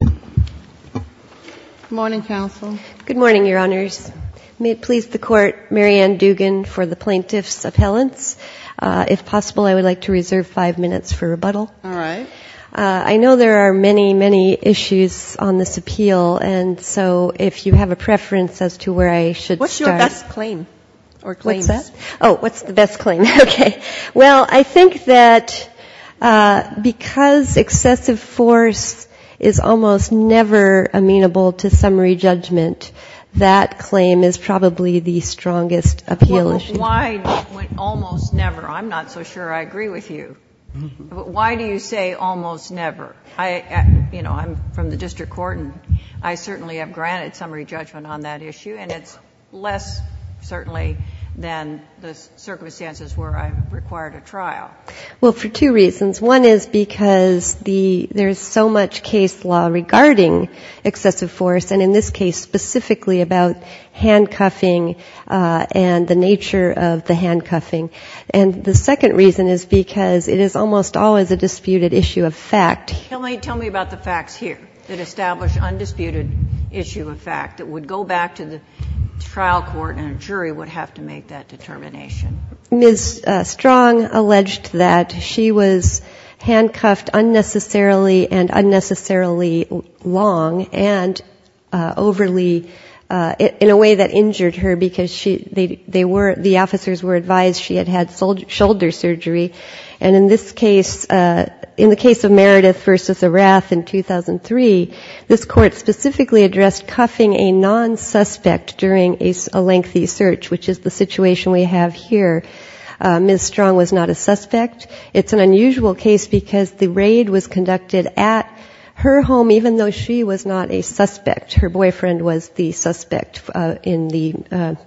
Good morning, counsel. Good morning, Your Honors. May it please the Court, Mary Ann Dugan for the Plaintiffs' Appellants. If possible, I would like to reserve five minutes for rebuttal. All right. I know there are many, many issues on this appeal, and so if you have a preference as to where I should start. What's your best claim or claims? Oh, what's the best claim? Okay. Well, I think that because excessive force is almost never amenable to summary judgment, that claim is probably the strongest appeal issue. Well, why almost never? I'm not so sure I agree with you. Why do you say almost never? You know, I'm from the district court, and I certainly have granted summary judgment on that issue, and it's less certainly than the circumstances where I've required a trial. Well, for two reasons. One is because there's so much case law regarding excessive force, and in this case specifically about handcuffing and the nature of the handcuffing. And the second reason is because it is almost always a disputed issue of fact. Tell me about the facts here that establish undisputed issue of fact that would go back to the trial court and a jury would have to make that determination. Ms. Strong alleged that she was handcuffed unnecessarily and unnecessarily long and overly, in a way that injured her, because the officers were advised she had had shoulder surgery. And in this case, in the case of Meredith v. Arath in 2003, this court specifically addressed cuffing a nonsuspect during a lengthy search, which is the situation we have here. Ms. Strong was not a suspect. It's an unusual case because the raid was conducted at her home, even though she was not a suspect. Her boyfriend was the suspect in the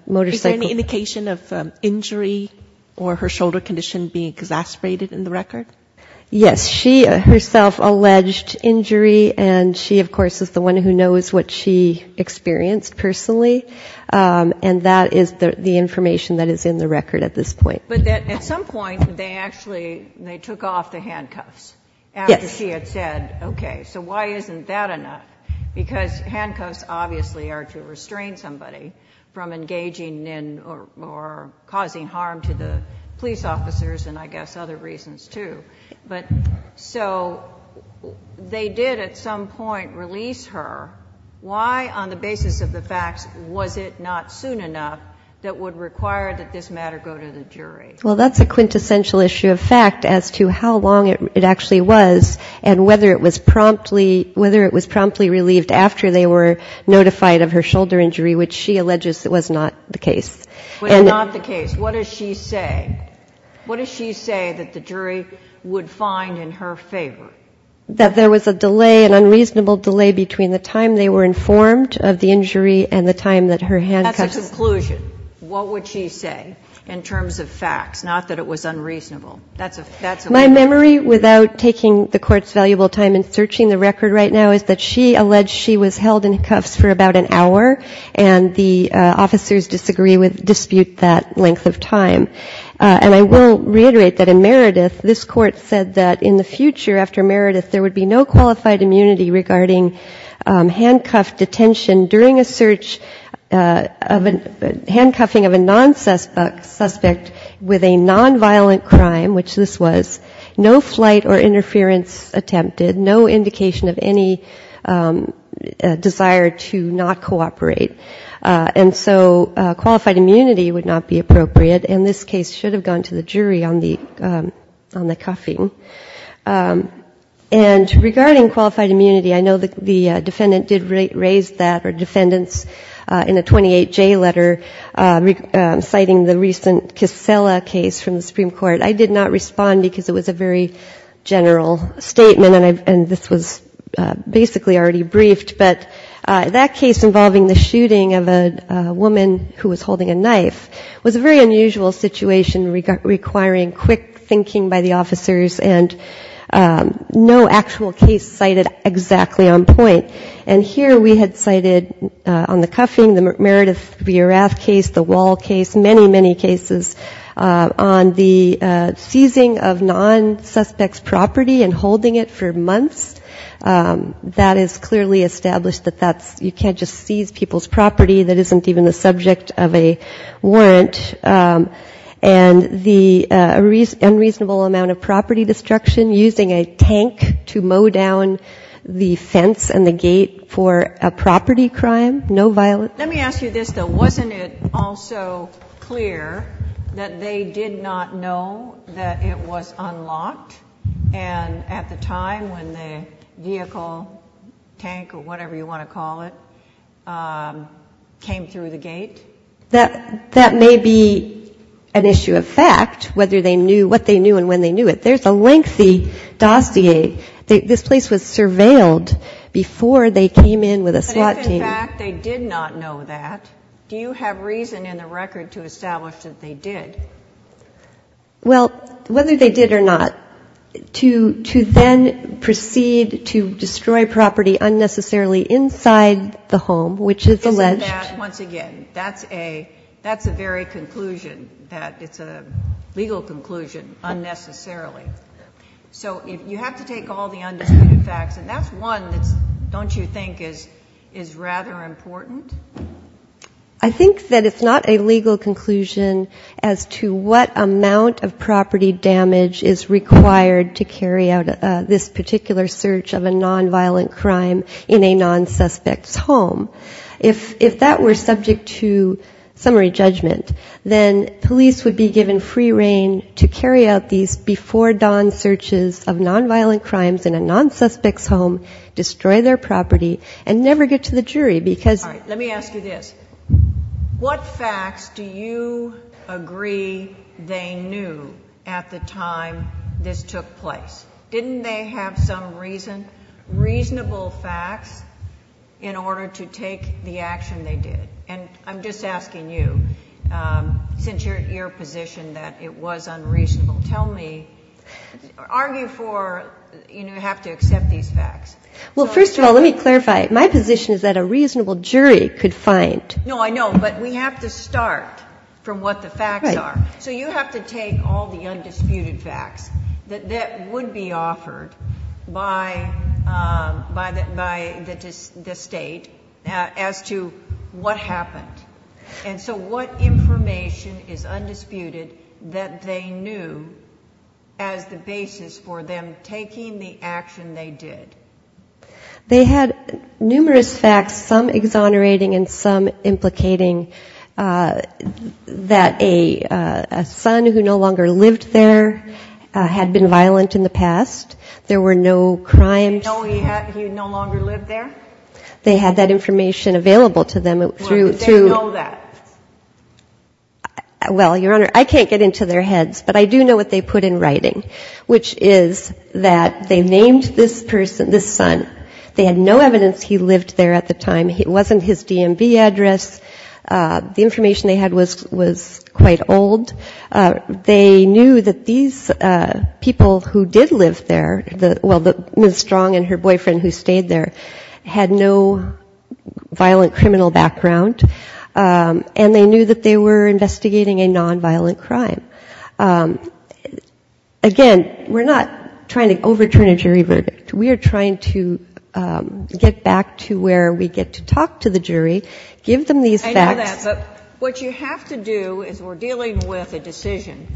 motorcycle. Is there any indication of injury or her shoulder condition being exasperated in the record? Yes, she herself alleged injury, and she, of course, is the one who knows what she experienced personally. And that is the information that is in the record at this point. But at some point they actually took off the handcuffs after she had said, okay, so why isn't that enough? Because handcuffs obviously are to restrain somebody from engaging in or causing harm to the police officers and I guess other reasons, too. But so they did at some point release her. Why, on the basis of the facts, was it not soon enough that would require that this matter go to the jury? Well, that's a quintessential issue of fact as to how long it actually was and whether it was promptly relieved after they were notified of her shoulder injury, which she alleges was not the case. But not the case. What does she say? What does she say that the jury would find in her favor? That there was a delay, an unreasonable delay between the time they were informed of the injury and the time that her handcuffs... That's a conclusion. And I will reiterate that in Meredith, this court said that in the future after Meredith, there would be no qualified immunity regarding handcuff detention during a search of a... Handcuffing of a non-suspect with a non-violent crime, which this was, no flight or interference attempted, no indication of any desire to not cooperate. And so qualified immunity would not be appropriate. And this case should have gone to the jury on the cuffing. And regarding qualified immunity, I know the defendant did raise that, or defendants in a 28J letter citing the recent Kissela case from the Supreme Court. I did not respond because it was a very general statement, and this was basically already briefed. But that case involving the shooting of a woman who was holding a knife was a very unusual situation requiring quick thinking by the officers and no actual case cited exactly on point. And here we had cited on the cuffing, the Meredith Bierath case, the Wall case, many, many cases on the seizing of non-suspect's property and established that that's, you can't just seize people's property, that isn't even the subject of a warrant. And the unreasonable amount of property destruction, using a tank to mow down the fence and the gate for a property crime, no violence. Let me ask you this, though. Wasn't it also clear that they did not know that it was unlocked? That the door, whatever you want to call it, came through the gate? That may be an issue of fact, whether they knew, what they knew and when they knew it. There's a lengthy dossier. This place was surveilled before they came in with a SWAT team. But if in fact they did not know that, do you have reason in the record to establish that they did? Well, whether they did or not, to then proceed to destroy property unnecessarily inside the home, which is alleged. Isn't that, once again, that's a very conclusion. It's a legal conclusion, unnecessarily. So you have to take all the undisputed facts, and that's one that, don't you think, is rather important? I think that it's not a legal conclusion as to what amount of property damage is required to carry out this particular search of a non-violent crime in a non-suspect's home. If that were subject to summary judgment, then police would be given free reign to carry out these before-dawn searches of non-violent crimes in a non-suspect's home, destroy their property, and never get to the jury. All right, let me ask you this. What facts do you agree they knew at the time this took place? Didn't they have some reason, reasonable facts, in order to take the action they did? And I'm just asking you, since you're at your position that it was unreasonable, tell me, argue for, you know, you have to accept these facts. Well, first of all, let me clarify, my position is that a reasonable jury could find... No, I know, but we have to start from what the facts are. So you have to take all the undisputed facts that would be offered by the State as to what happened. And so what information is undisputed that they knew as the basis for them taking the action they did? They had numerous facts, some exonerating and some implicating that a son who no longer lived there had been violent in the past. There were no crimes. No, he no longer lived there? They had that information available to them through... They had no evidence he lived there at the time. It wasn't his DMV address. The information they had was quite old. They knew that these people who did live there, well, Ms. Strong and her boyfriend who stayed there, had no violent criminal background, and they knew that they were investigating a nonviolent crime. Again, we're not trying to overturn a jury verdict. We are trying to get back to where we get to talk to the jury, give them these facts... I know that, but what you have to do is we're dealing with a decision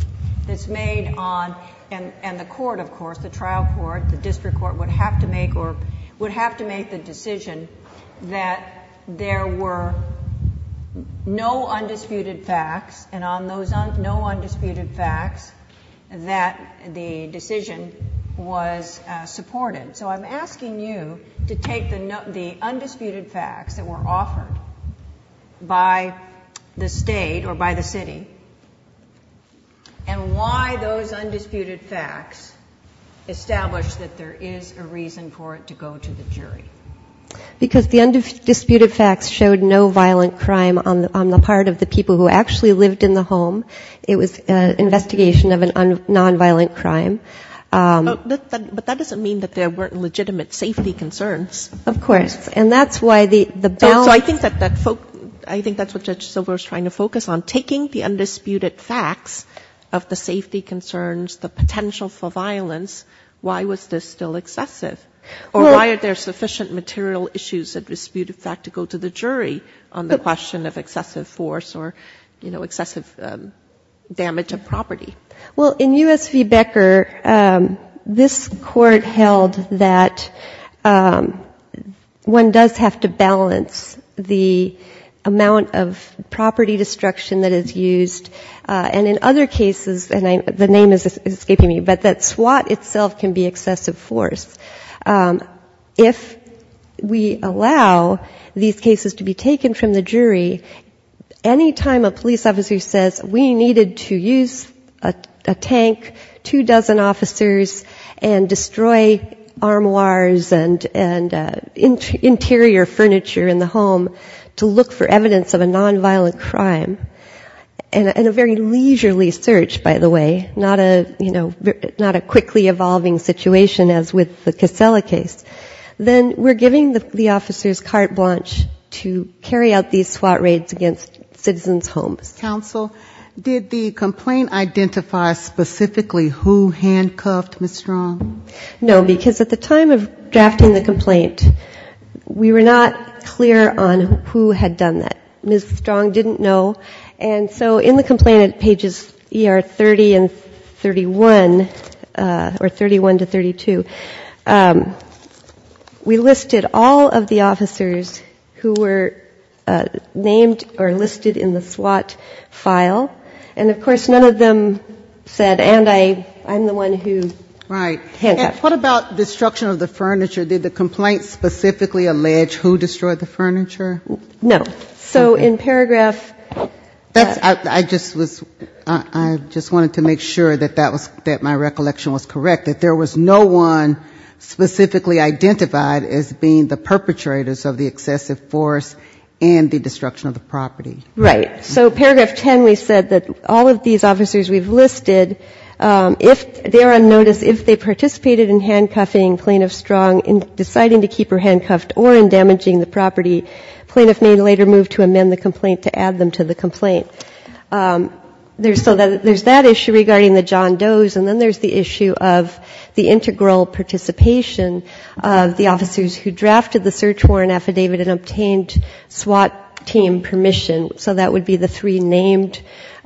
that's made on... And the court, of course, the trial court, the district court, would have to make the decision that there were no undisputed facts, and on those no undisputed facts, that the decision was supported. So I'm asking you to take the undisputed facts that were offered by the state or by the city, and why those undisputed facts established that there is a reason for it to go to the jury. Because the undisputed facts showed no violent crime on the part of the people who actually lived in the home. It was an investigation of a nonviolent crime. But that doesn't mean that there weren't legitimate safety concerns. Of course. And that's why the balance... I think that's what Judge Silver was trying to focus on, taking the undisputed facts of the safety concerns, the potential for violence, why was this still excessive? Or why are there sufficient material issues of disputed fact to go to the jury on the question of excessive force or excessive violence? Damage of property. Well, in U.S. v. Becker, this court held that one does have to balance the amount of property destruction that is used. And in other cases, and the name is escaping me, but that SWAT itself can be excessive force. If we allow these cases to be taken from the jury, any time a police officer says, we needed to use a tank, two dozen officers, and destroy armoires and interior furniture in the home to look for evidence of a nonviolent crime, and a very leisurely search, by the way, not a quickly evolving situation as with the Casella case, then we're giving the officers carte blanche to carry out these SWAT raids against citizens' homes. Ms. Strong, did the complaint identify specifically who handcuffed Ms. Strong? No, because at the time of drafting the complaint, we were not clear on who had done that. Ms. Strong didn't know, and so in the complaint at pages 30 and 31, or 31 to 32, we listed all of the officers who were named or listed in the SWAT file, and of course none of them said, and I'm the one who handcuffed them. Right. And what about destruction of the furniture? Did the complaint specifically allege who destroyed the furniture? No. So in paragraph... I just was, I just wanted to make sure that that was, that my recollection was correct, that there was no one specifically identified as being the suspect. In paragraph 10, we said that all of these officers we've listed, if they're on notice, if they participated in handcuffing Plaintiff Strong, in deciding to keep her handcuffed, or in damaging the property, plaintiff may later move to amend the complaint to add them to the complaint. So there's that issue regarding the John Does, and then there's the issue of the integral participation of the officers who drafted the search report.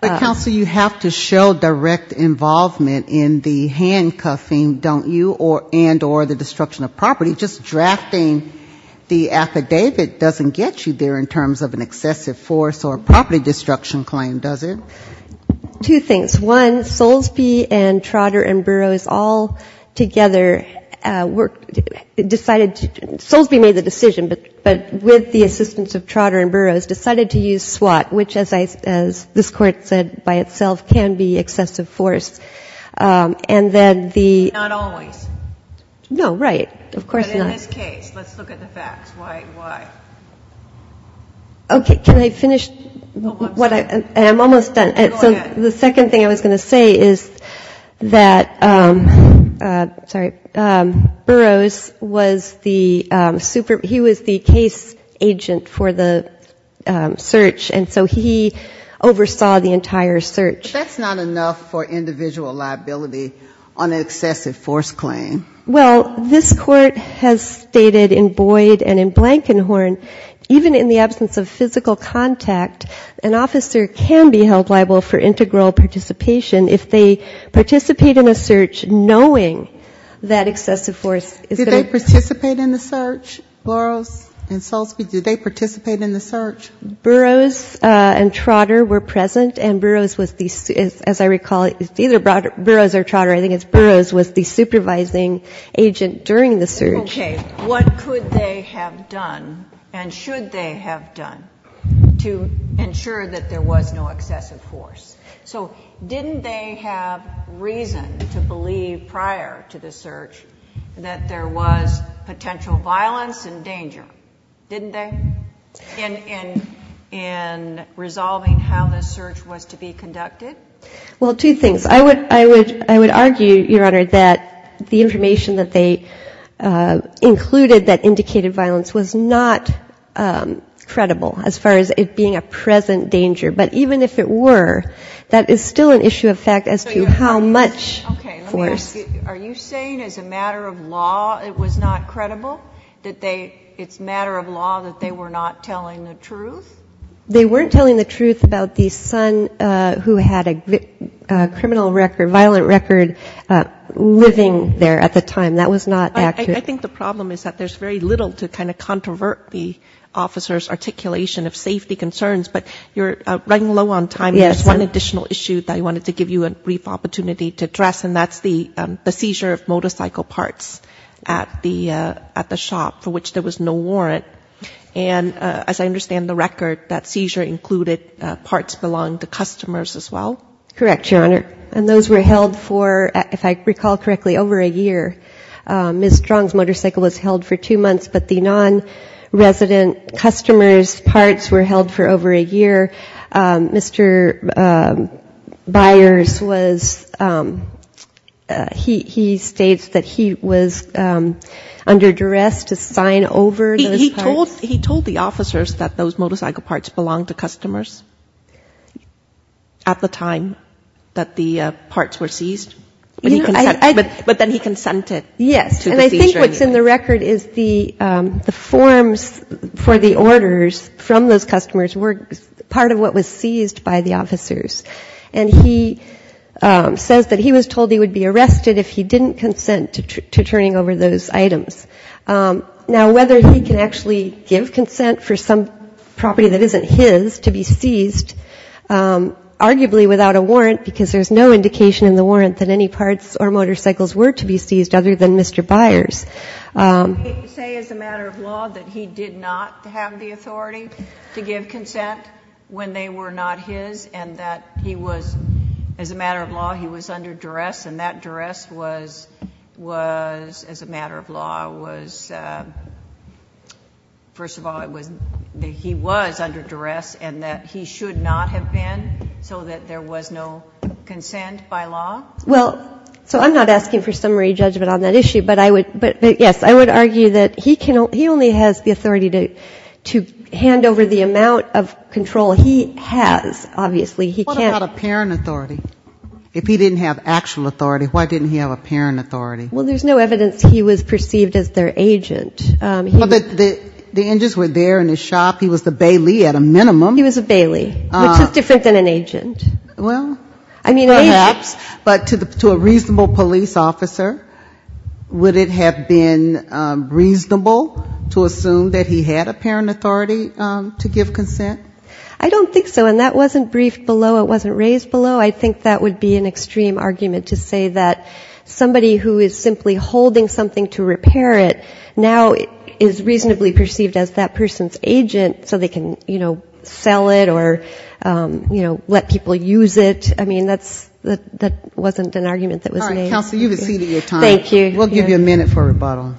Counsel, you have to show direct involvement in the handcuffing, don't you, and or the destruction of property. Just drafting the affidavit doesn't get you there in terms of an excessive force or property destruction claim, does it? Two things. One, Soulsby and Trotter and Burroughs all together decided to, Soulsby made the decision, but with the assistance of Trotter and Burroughs, as this Court said by itself, can be excessive force. And then the... Not always. No, right. Of course not. But in this case, let's look at the facts. Why? Okay. Can I finish? I'm almost done. So the second thing I was going to say is that, sorry, Burroughs was the super, he was the case agent for the search. But that's not enough for individual liability on an excessive force claim. Well, this Court has stated in Boyd and in Blankenhorn, even in the absence of physical contact, an officer can be held liable for integral participation if they participate in a search knowing that excessive force is going to... Did they participate in the search, Burroughs and Soulsby? Did they participate in the search? Burroughs and Trotter were present and Burroughs was the, as I recall, either Burroughs or Trotter, I think it's Burroughs was the supervising agent during the search. Okay. What could they have done and should they have done to ensure that there was no excessive force? So didn't they have reason to believe prior to the search that there was potential violence and danger? Didn't they? In resolving how this search was to be conducted? Well, two things. I would argue, Your Honor, that the information that they included that indicated violence was not credible as far as it being a present danger. But even if it were, that is still an issue of fact as to how much force... Okay. Let me ask you, are you saying as a matter of law it was not credible, that they, it's a matter of law that they were not telling the truth? They weren't telling the truth about the son who had a criminal record, violent record living there at the time. That was not accurate. I think the problem is that there's very little to kind of controvert the officer's articulation of safety concerns, but you're running low on time. There's one additional issue that I wanted to give you a brief opportunity to address and that's the seizure of motorcycle parts at the shop, for which there was no warrant. And as I understand the record, that seizure included parts belonging to customers as well? Correct, Your Honor. And those were held for, if I recall correctly, over a year. Ms. Strong's motorcycle was held for two months, but the non-resident customer's parts were held for over a year. Mr. Byers was, he states that he was not aware of the fact that there were motorcycle parts there. He was under duress to sign over those parts. He told the officers that those motorcycle parts belonged to customers at the time that the parts were seized? But then he consented to the seizure anyway. Yes. And I think what's in the record is the forms for the orders from those customers were part of what was seized by the officers. And he says that he was told he would be arrested if he didn't consent to turning over those items. Now, whether he can actually give consent for some property that isn't his to be seized, arguably without a warrant, because there's no indication in the warrant that any parts or motorcycles were to be seized other than Mr. Byers. He did say as a matter of law that he did not have the authority to give consent when they were not his and that he was, as a matter of law, he was under duress and that duress was, as a matter of law, was, first of all, he was under duress and that he should not have been so that there was no consent by law? Well, so I'm not asking for summary judgment on that issue, but yes, I would argue that he only has the authority to hand over the amount of control he has, obviously, he can't... What about apparent authority? If he didn't have actual authority, why didn't he have apparent authority? Well, there's no evidence he was perceived as their agent. The engines were there in the shop, he was the bailey at a minimum. He was a bailey, which is different than an agent. Well, perhaps, but to a reasonable police officer, would it have been reasonable to assume that he had apparent authority to give consent? I don't think so. And that wasn't briefed below, it wasn't raised below. I think that would be an extreme argument to say that somebody who is simply holding something to repair it now is reasonably perceived as that person's agent so they can, you know, sell it or, you know, let people use it. I mean, that wasn't an argument that was made. All right, counsel, you've exceeded your time. We'll give you a minute for rebuttal.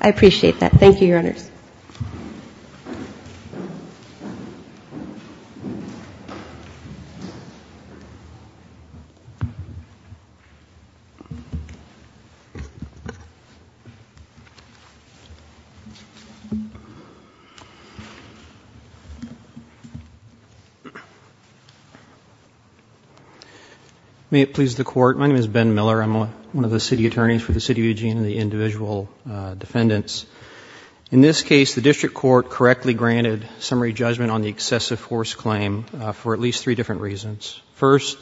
May it please the Court, my name is Ben Miller. I'm one of the city attorneys for the City of Eugene and the individual defendants. In this case, the district court correctly granted summary judgment on the excessive force claim for at least three different reasons. First,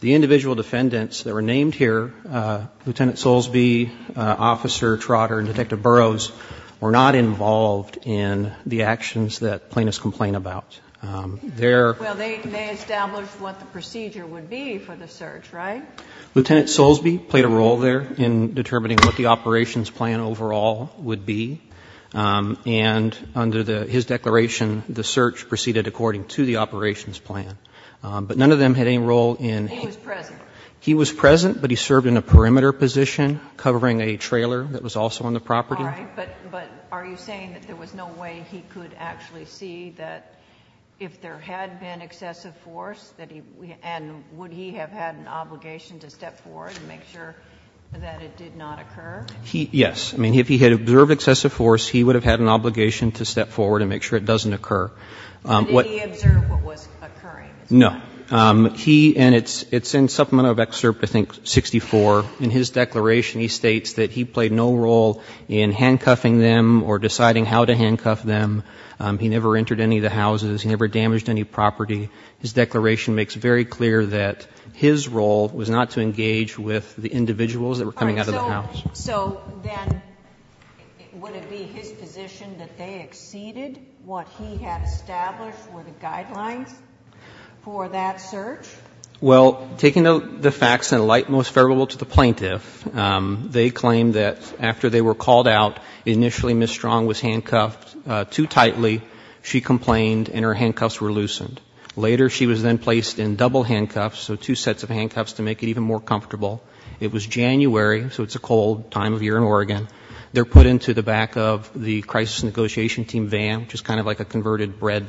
the individual defendants that were named here, Lieutenant Soulsby, Officer Trotter, and Detective Burroughs, were not involved in the actions that plaintiffs complained about. Well, they established what the procedure would be for the search, right? Lieutenant Soulsby played a role there in determining what the operations plan overall would be. And under his declaration, the search proceeded according to the operations plan. But none of them had any role in He was present. He was present, but he served in a perimeter position covering a trailer that was also on the property. If there had been excessive force, and would he have had an obligation to step forward and make sure that it did not occur? Yes. I mean, if he had observed excessive force, he would have had an obligation to step forward and make sure it doesn't occur. Did he observe what was occurring? No. And it's in Supplement of Excerpt, I think, 64. In his declaration, he states that he played no role in handcuffing them or deciding how to handcuff them. He never entered any of the houses. He never damaged any property. His declaration makes very clear that his role was not to engage with the individuals that were coming out of the house. All right. So then would it be his position that they exceeded what he had established were the guidelines for that search? Well, taking the facts in light most favorable to the plaintiff, they claim that after they were called out, initially Ms. Strong was handcuffed too tightly, she complained, and her handcuffs were loosened. Later, she was then placed in double handcuffs, so two sets of handcuffs to make it even more comfortable. It was January, so it's a cold time of year in Oregon. They're put into the back of the crisis negotiation team van, which is kind of like a converted bread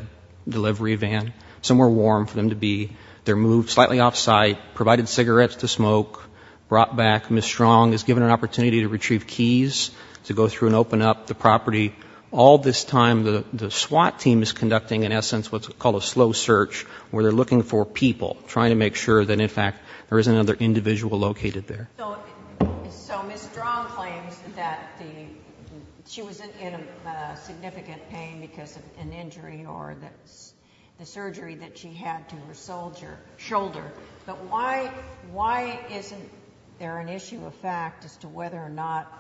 delivery van, somewhere warm for them to be. They're moved slightly off-site, provided cigarettes to smoke, brought back. Ms. Strong is given an opportunity to retrieve keys to go through and open up the property. All this time, the SWAT team is conducting, in essence, what's called a slow search, where they're looking for people, trying to make sure that, in fact, there isn't another individual located there. So Ms. Strong claims that she was in significant pain because of an injury or the surgery that she had to her shoulder. But why isn't there an issue of fact as to whether or not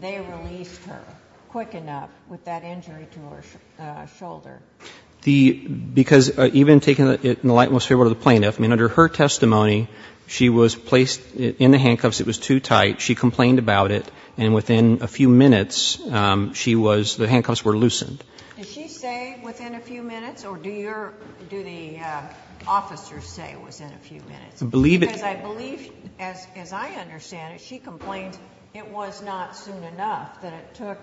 they released her quick enough with that injury to her shoulder? Because even taking it in the light and most favorable to the plaintiff, I mean, under her testimony, she was placed in the handcuffs. It was too tight. She complained about it, and within a few minutes, the handcuffs were loosened. Because I believe, as I understand it, she complained it was not soon enough, that it took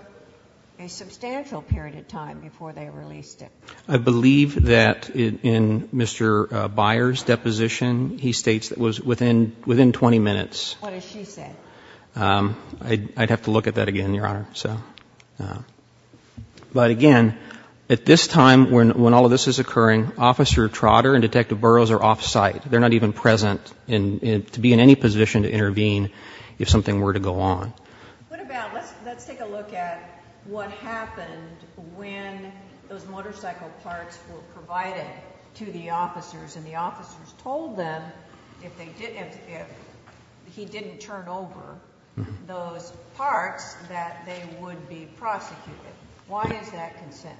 a substantial period of time before they released it. I believe that in Mr. Byers' deposition, he states that it was within 20 minutes. What does she say? I'd have to look at that again, Your Honor. But again, at this time, when all of this is occurring, Officer Trotter and Detective Burroughs are off-site. They're not even present to be in any position to intervene if something were to go on. What about, let's take a look at what happened when those motorcycle parts were provided to the officers, and the officers told them, if he didn't turn over those parts, that they would be prosecuted. Why is that consent?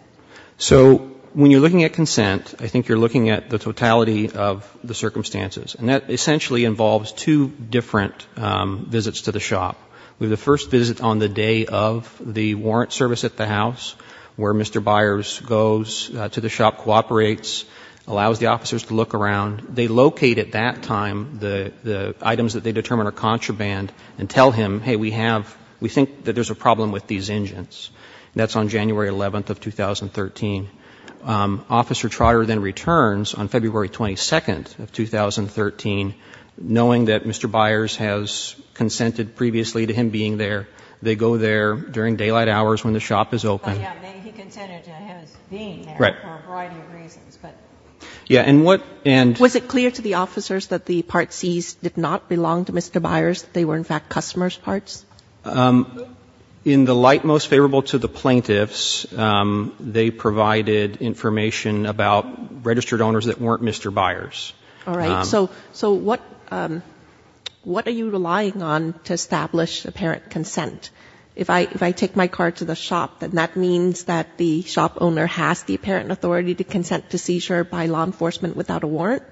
So, when you're looking at consent, I think you're looking at the totality of the circumstances. And that essentially involves two different visits to the shop. We have the first visit on the day of the warrant service at the house, where Mr. Byers goes to the shop, cooperates, allows the officers to look around. They locate at that time the items that they determine are contraband and tell him, hey, we think that there's a problem with these engines. That's on January 11th of 2013. Officer Trotter then returns on February 22nd of 2013, knowing that Mr. Byers has consented previously to him being there. They go there during daylight hours when the shop is open. Yeah, he consented to him being there for a variety of reasons. Was it clear to the officers that the parts seized did not belong to Mr. Byers, that they were, in fact, customers' parts? In the light most favorable to the plaintiffs, they provided information about registered owners that weren't Mr. Byers. All right. So what are you relying on to establish apparent consent? If I take my car to the shop, then that means that the shop owner has the apparent authority to consent to seizure by law enforcement without a warrant?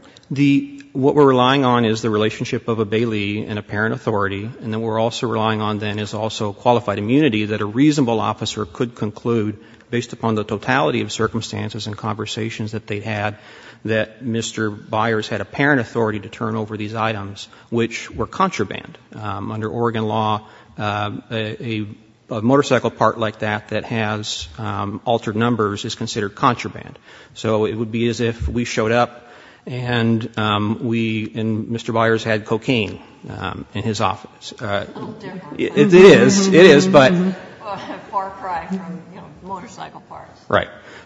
What we're relying on is the relationship of a bailee and apparent authority. And then what we're also relying on then is also qualified immunity that a reasonable officer could conclude, based upon the totality of circumstances and conversations that they had, that Mr. Byers had apparent authority to turn over these items, which were contraband. Under Oregon law, a motorcycle part like that that has altered numbers is considered contraband. So it would be as if we showed up and Mr. Byers had cocaine in his office. A little different.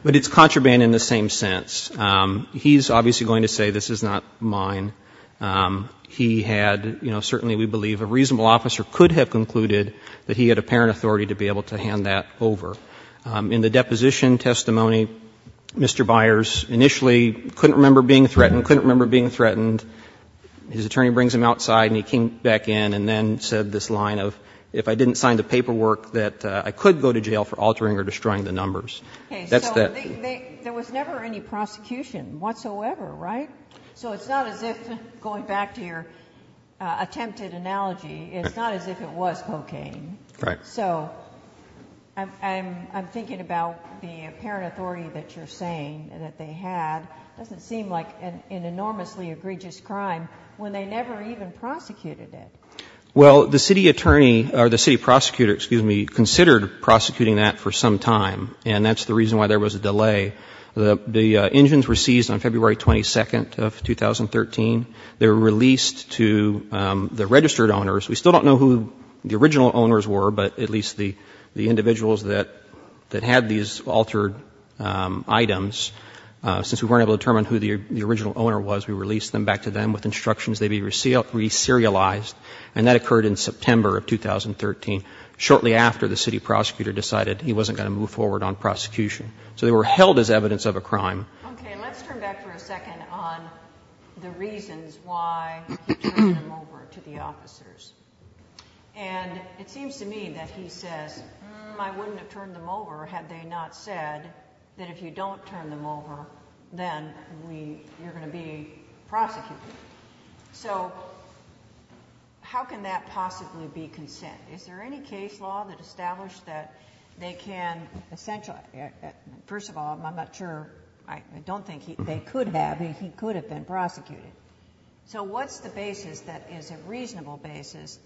It's contraband in the same sense. He's obviously going to say this is not mine. He had, you know, certainly we believe a reasonable officer could have concluded that he had apparent authority to be able to hand that over. In the deposition testimony, Mr. Byers initially couldn't remember being threatened, couldn't remember being threatened. His attorney brings him outside and he came back in and then said this line of if I didn't sign the paperwork that I could go to jail for altering or destroying the numbers. That's that. There was never any prosecution whatsoever, right? So it's not as if, going back to your attempted analogy, it's not as if it was cocaine. So I'm thinking about the apparent authority that you're saying that they had. It doesn't seem like an enormously egregious crime when they never even prosecuted it. Well, the city attorney, or the city prosecutor, excuse me, considered prosecuting that for some time. And that's the reason why there was a delay. The engines were seized on February 22nd of 2013. They were released to the registered owners. We still don't know who the original owners were, but at least the individuals that had these altered items. Since we weren't able to determine who the original owner was, we released them back to them with instructions they be reserialized. And that occurred in September of 2013, shortly after the city prosecutor decided he wasn't going to move forward on prosecution. So they were held as evidence of a crime. Okay. And let's turn back for a second on the reasons why he turned them over to the officers. If you don't turn them over, then you're going to be prosecuted. So how can that possibly be consent? Is there any case law that established that they can essentially... First of all, I'm not sure... I don't think they could have. He could have been prosecuted. So what's the basis that is a reasonable basis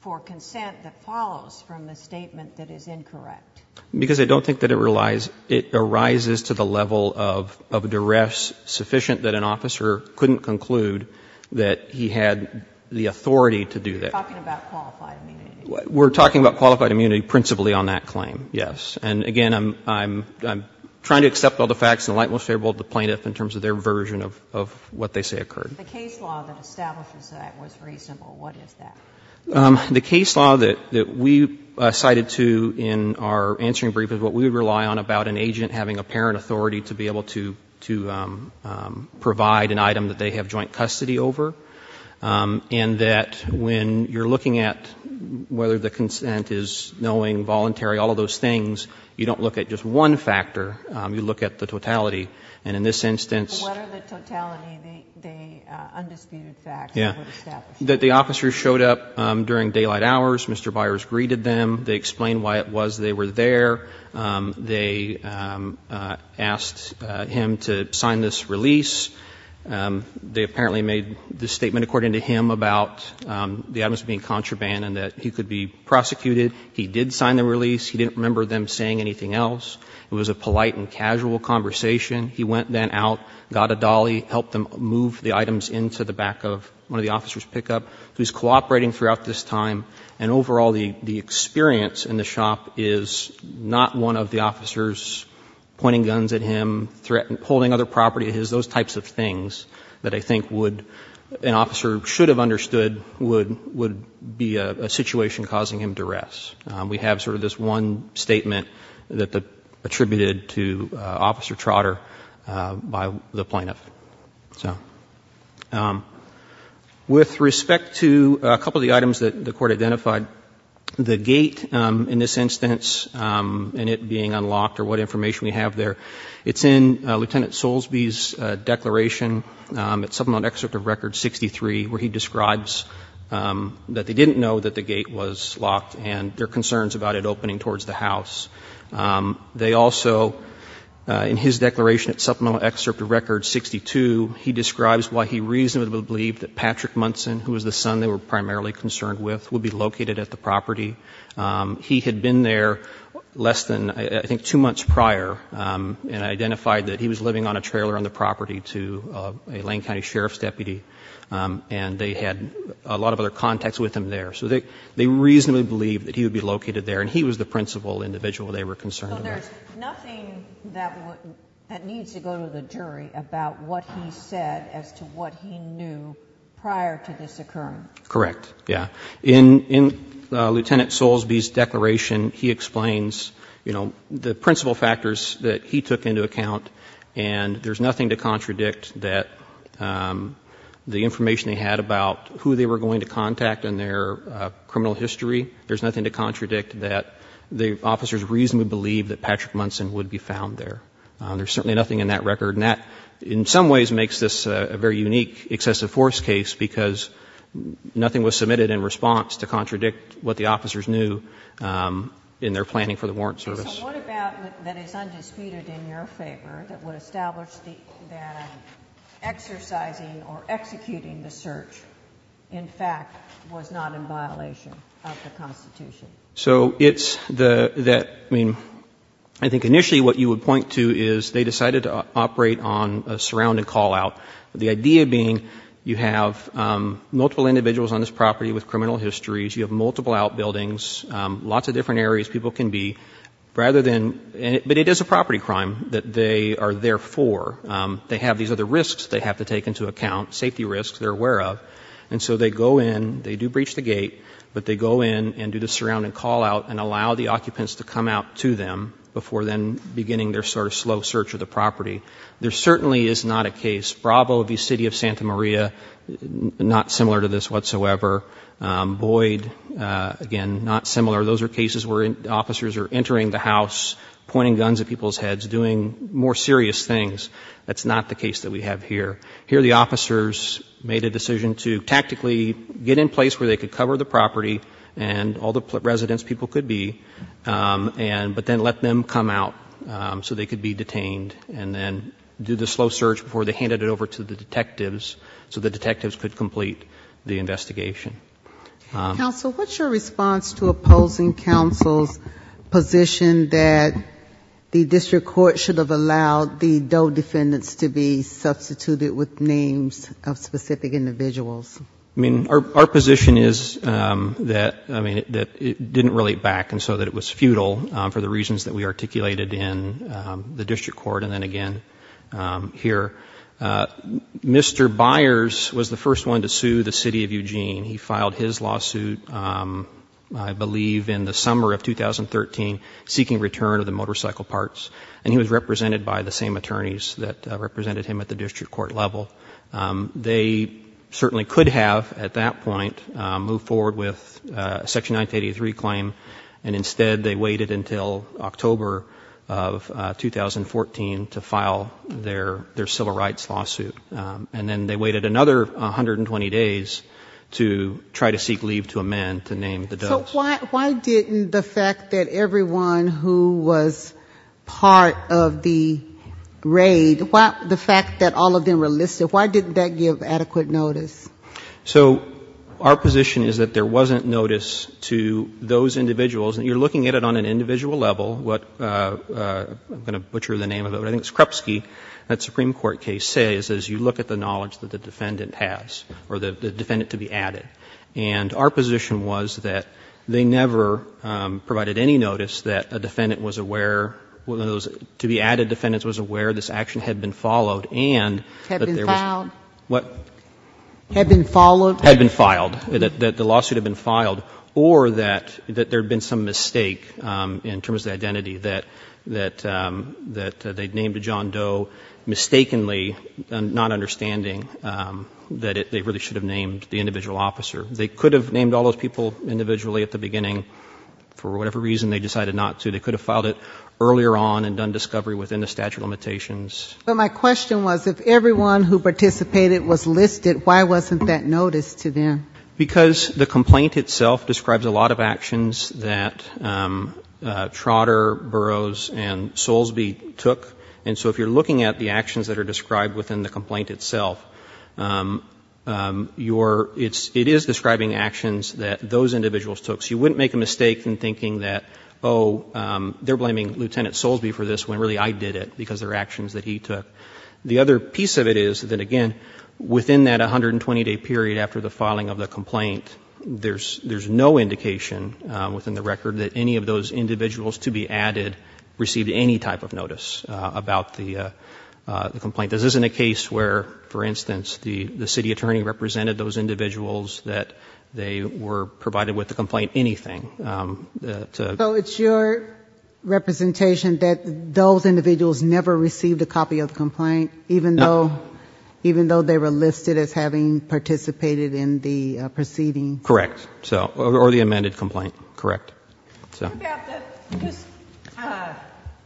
for consent that follows from a statement that is incorrect? Because I don't think that it arises to the level of duress sufficient that an officer couldn't conclude that he had the authority to do that. You're talking about qualified immunity. We're talking about qualified immunity principally on that claim, yes. And again, I'm trying to accept all the facts in the light most favorable to the plaintiff in terms of their version of what they say occurred. The case law that establishes that was reasonable. What is that? The case law that we cited to in our answering brief is what we would rely on about an agent having apparent authority to be able to provide an item that they have joint custody over. And that when you're looking at whether the consent is knowing, voluntary, all of those things, you don't look at just one factor. You look at the totality. And in this instance... What are the totality, the undisputed facts that were established? That the officer showed up during daylight hours. Mr. Byers greeted them. They explained why it was they were there. They asked him to sign this release. They apparently made this statement, according to him, about the items being contraband and that he could be prosecuted. He did sign the release. He didn't remember them saying anything else. It was a polite and casual conversation. He went then out, got a dolly, helped them move the items into the back of one of the officers' pickup. He was cooperating throughout this time. And overall, the experience in the shop is not one of the officers pointing guns at him, holding other property of his. Those types of things that I think an officer should have understood would be a situation causing him duress. We have sort of this one statement that attributed to Officer Trotter by the plaintiff. With respect to a couple of the items that the Court identified, the gate in this instance and it being unlocked or what information we have there, it's in Lieutenant Soulsby's declaration at supplemental excerpt of Record 63, where he describes that they didn't know that the gate was locked and their concerns about it opening towards the house. In his declaration at supplemental excerpt of Record 62, he describes why he reasonably believed that Patrick Munson, who was the son they were primarily concerned with, would be located at the property. He had been there less than, I think, two months prior and identified that he was living on a trailer on the property to a Lane County Sheriff's deputy and they had a lot of other contacts with him there. So they reasonably believed that he would be located there and he was the principal individual they were concerned about. So there's nothing that needs to go to the jury about what he said as to what he knew prior to this occurrence? Correct. Yeah. In Lieutenant Soulsby's declaration, he explains the principal factors that he took into account and there's nothing to contradict that the information they had about who they were going to contact in their criminal history. There's nothing to contradict that the officers reasonably believed that Patrick Munson would be found there. There's certainly nothing in that record. And that, in some ways, makes this a very unique excessive force case because nothing was submitted in response to contradict what the officers knew in their planning for the warrant service. So what about that is undisputed in your favor that would establish that exercising or executing the search, in fact, was not in violation of the Constitution? So it's the that, I mean, I think initially what you would point to is they decided to operate on a surrounding call-out, the idea being you have multiple individuals on this property with criminal histories, you have multiple outbuildings, lots of different areas people can be, rather than, but it is a property crime that they are there for. They have these other risks they have to take into account, safety risks they're aware of, and so they go in, they do breach the gate, but they go in and do the surrounding call-out and allow the occupants to come out to them before then beginning their sort of slow search of the property. There certainly is not a case, Bravo v. City of Santa Maria, not similar to this whatsoever. Boyd, again, not similar. Those are cases where officers are entering the house, pointing guns at people's heads, doing more serious things. That's not the place where they could cover the property and all the residents, people could be, but then let them come out so they could be detained and then do the slow search before they handed it over to the detectives so the detectives could complete the investigation. Counsel, what's your response to opposing counsel's position that the district court should have allowed the Doe defendants to be detained? My position is that, I mean, it didn't relate back, and so that it was futile for the reasons that we articulated in the district court and then again here. Mr. Byers was the first one to sue the City of Eugene. He filed his lawsuit, I believe, in the summer of 2013, seeking return of the motorcycle parts, and he was represented by the same group that moved forward with Section 983 claim, and instead they waited until October of 2014 to file their civil rights lawsuit. And then they waited another 120 days to try to seek leave to a man to name the Doe. So why didn't the fact that everyone who was part of the raid, the fact that all of them were listed, why didn't that give adequate notice? So our position is that there wasn't notice to those individuals, and you're looking at it on an individual level, what, I'm going to butcher the name of it, but I think it's Krupski, that Supreme Court case says is you look at the knowledge that the defendant has or the defendant to be added. And our position was that they never provided any notice that a defendant was aware, one of those to be added defendants was aware this action had been followed and that there was no notice. Had been filed. What? Had been followed. Had been filed, that the lawsuit had been filed, or that there had been some mistake in terms of identity, that they'd named John Doe mistakenly, not understanding that they really should have named the individual officer. They could have named all those people individually at the beginning for whatever reason they decided not to. They could have filed it earlier on and done discovery within the statute of limitations. But my question was, if everyone who participated was listed, why wasn't that notice to them? Because the complaint itself describes a lot of actions that Trotter, Burroughs and Soulsby took, and so if you're looking at the actions that are described within the complaint itself, it is describing actions that those individuals took. So you wouldn't make a mistake in thinking that, oh, they're blaming Lieutenant Soulsby for this when really I did it, because they're actions that he took. The other piece of it is that, again, within that 120-day period after the filing of the complaint, there's no indication within the record that any of those individuals to be added received any type of notice about the complaint. This isn't a case where, for instance, the city attorney represented those individuals that they were provided with the complaint anything. So it's your representation that those individuals never received a copy of the complaint even though they were listed as having participated in the proceeding? Correct. Or the amended complaint. Correct.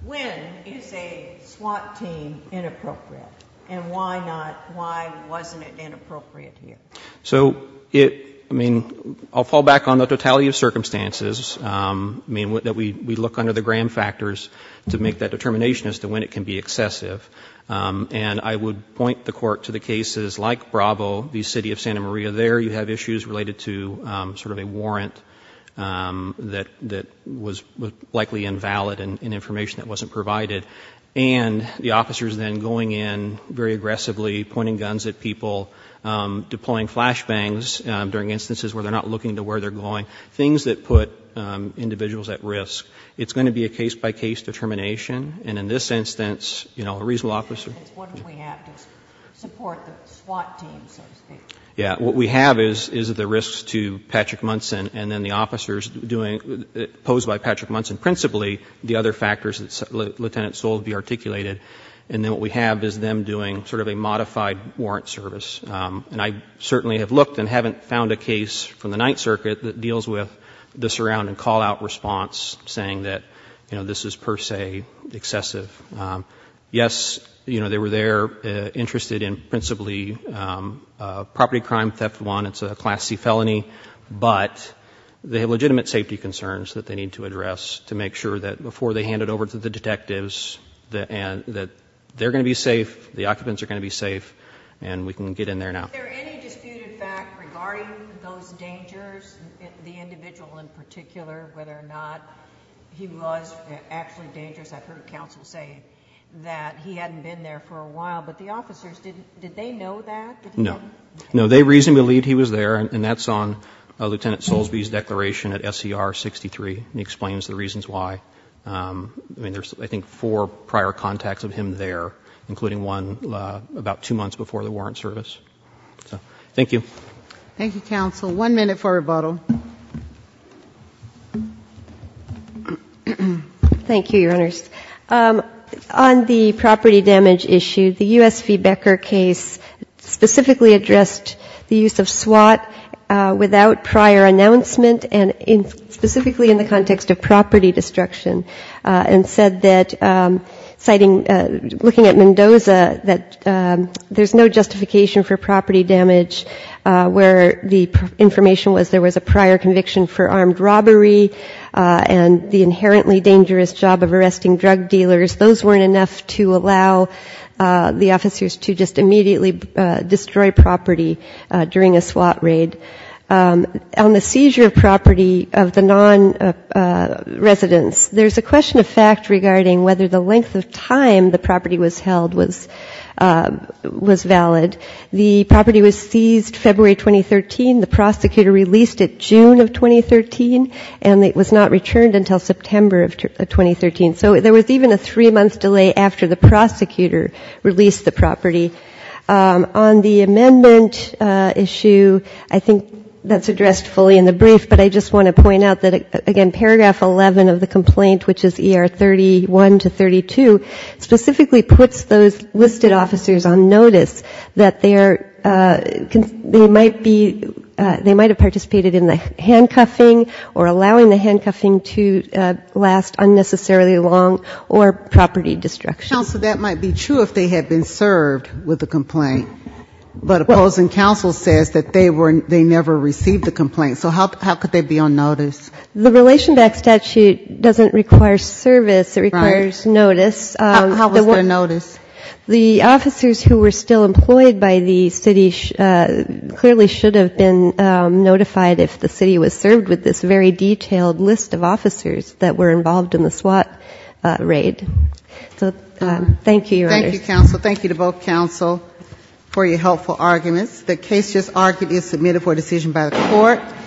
When is a SWAT team inappropriate? And why wasn't it inappropriate here? So it, I mean, I'll fall back on the totality of circumstances. I mean, we look under the gram factors to make that determination as to when it can be excessive. And I would point the Court to the cases like Bravo, the city of Santa Maria. There you have issues related to sort of a warrant that was likely invalid and information that wasn't provided. And the officers then going in very aggressively pointing guns at people, deploying flashbangs during instances where they're not looking to where they're going, things that put individuals at risk. It's going to be a case-by-case determination. And in this instance, you know, a reasonable officer What do we have to support the SWAT team, so to speak? Yeah. What we have is the risks to Patrick Munson and then the officers doing, posed by Patrick Munson principally, the other factors that Lieutenant Soule would have articulated. And then what we have is them doing sort of a modified warrant service. And I certainly have looked and haven't found a case from the Ninth Circuit that deals with the surround and call-out response, saying that, you know, this is per se excessive. Yes, you know, they were there interested in principally property crime, theft one. It's a Class C felony. But they have legitimate safety concerns that they need to address to make sure that before they hand it over to the detectives, that they're going to be safe, the occupants are going to be safe, and we can get in there now. Is there any disputed fact regarding those dangers, the individual in particular, whether or not he was actually dangerous? I've heard counsel say that he hadn't been there for a while. But the officers, did they know that? No. No, they reasonably believed he was there, and that's on Lieutenant Soulsby's declaration at SCR 63, and he explains the reasons why. I mean, there's I think four prior contacts of him there, including one about two months before the warrant service. So thank you. Thank you, counsel. One minute for rebuttal. Thank you, Your Honors. On the property damage issue, the U.S. Feedbacker case specifically addressed the use of SWAT without prior announcement, and specifically in the context of property destruction, and said that citing, looking at Mendoza, that there's no justification for property damage, where the information was there was a prior conviction for armed robbery and the inherently dangerous job of arresting drug dealers. Those weren't enough to allow the officers to just immediately destroy property during a SWAT raid. On the seizure of property of the non-residents, there's a question of fact regarding whether the length of time the property was held was valid. The property was seized February 2013. The prosecutor released it June of 2013, and it was not returned until September of 2013. So there was even a three-month delay after the prosecutor released the property. On the amendment issue, I think that's addressed fully in the brief, but I just want to point out that, again, paragraph 11 of the complaint, which is ER 31 to 32, specifically puts those listed officers on notice that they might be, they might have participated in the handcuffing or allowing the handcuffing to last unnecessarily long or property destruction. So that might be true if they had been served with the complaint. But opposing counsel says that they never received the complaint. So how could they be on notice? The relation back statute doesn't require service. It requires notice. How was there notice? The officers who were still employed by the city clearly should have been notified if the city was served with this very detailed list of officers that were involved in the SWAT raid. So thank you, Your Honor. Thank you, counsel. Thank you to both counsel for your helpful arguments.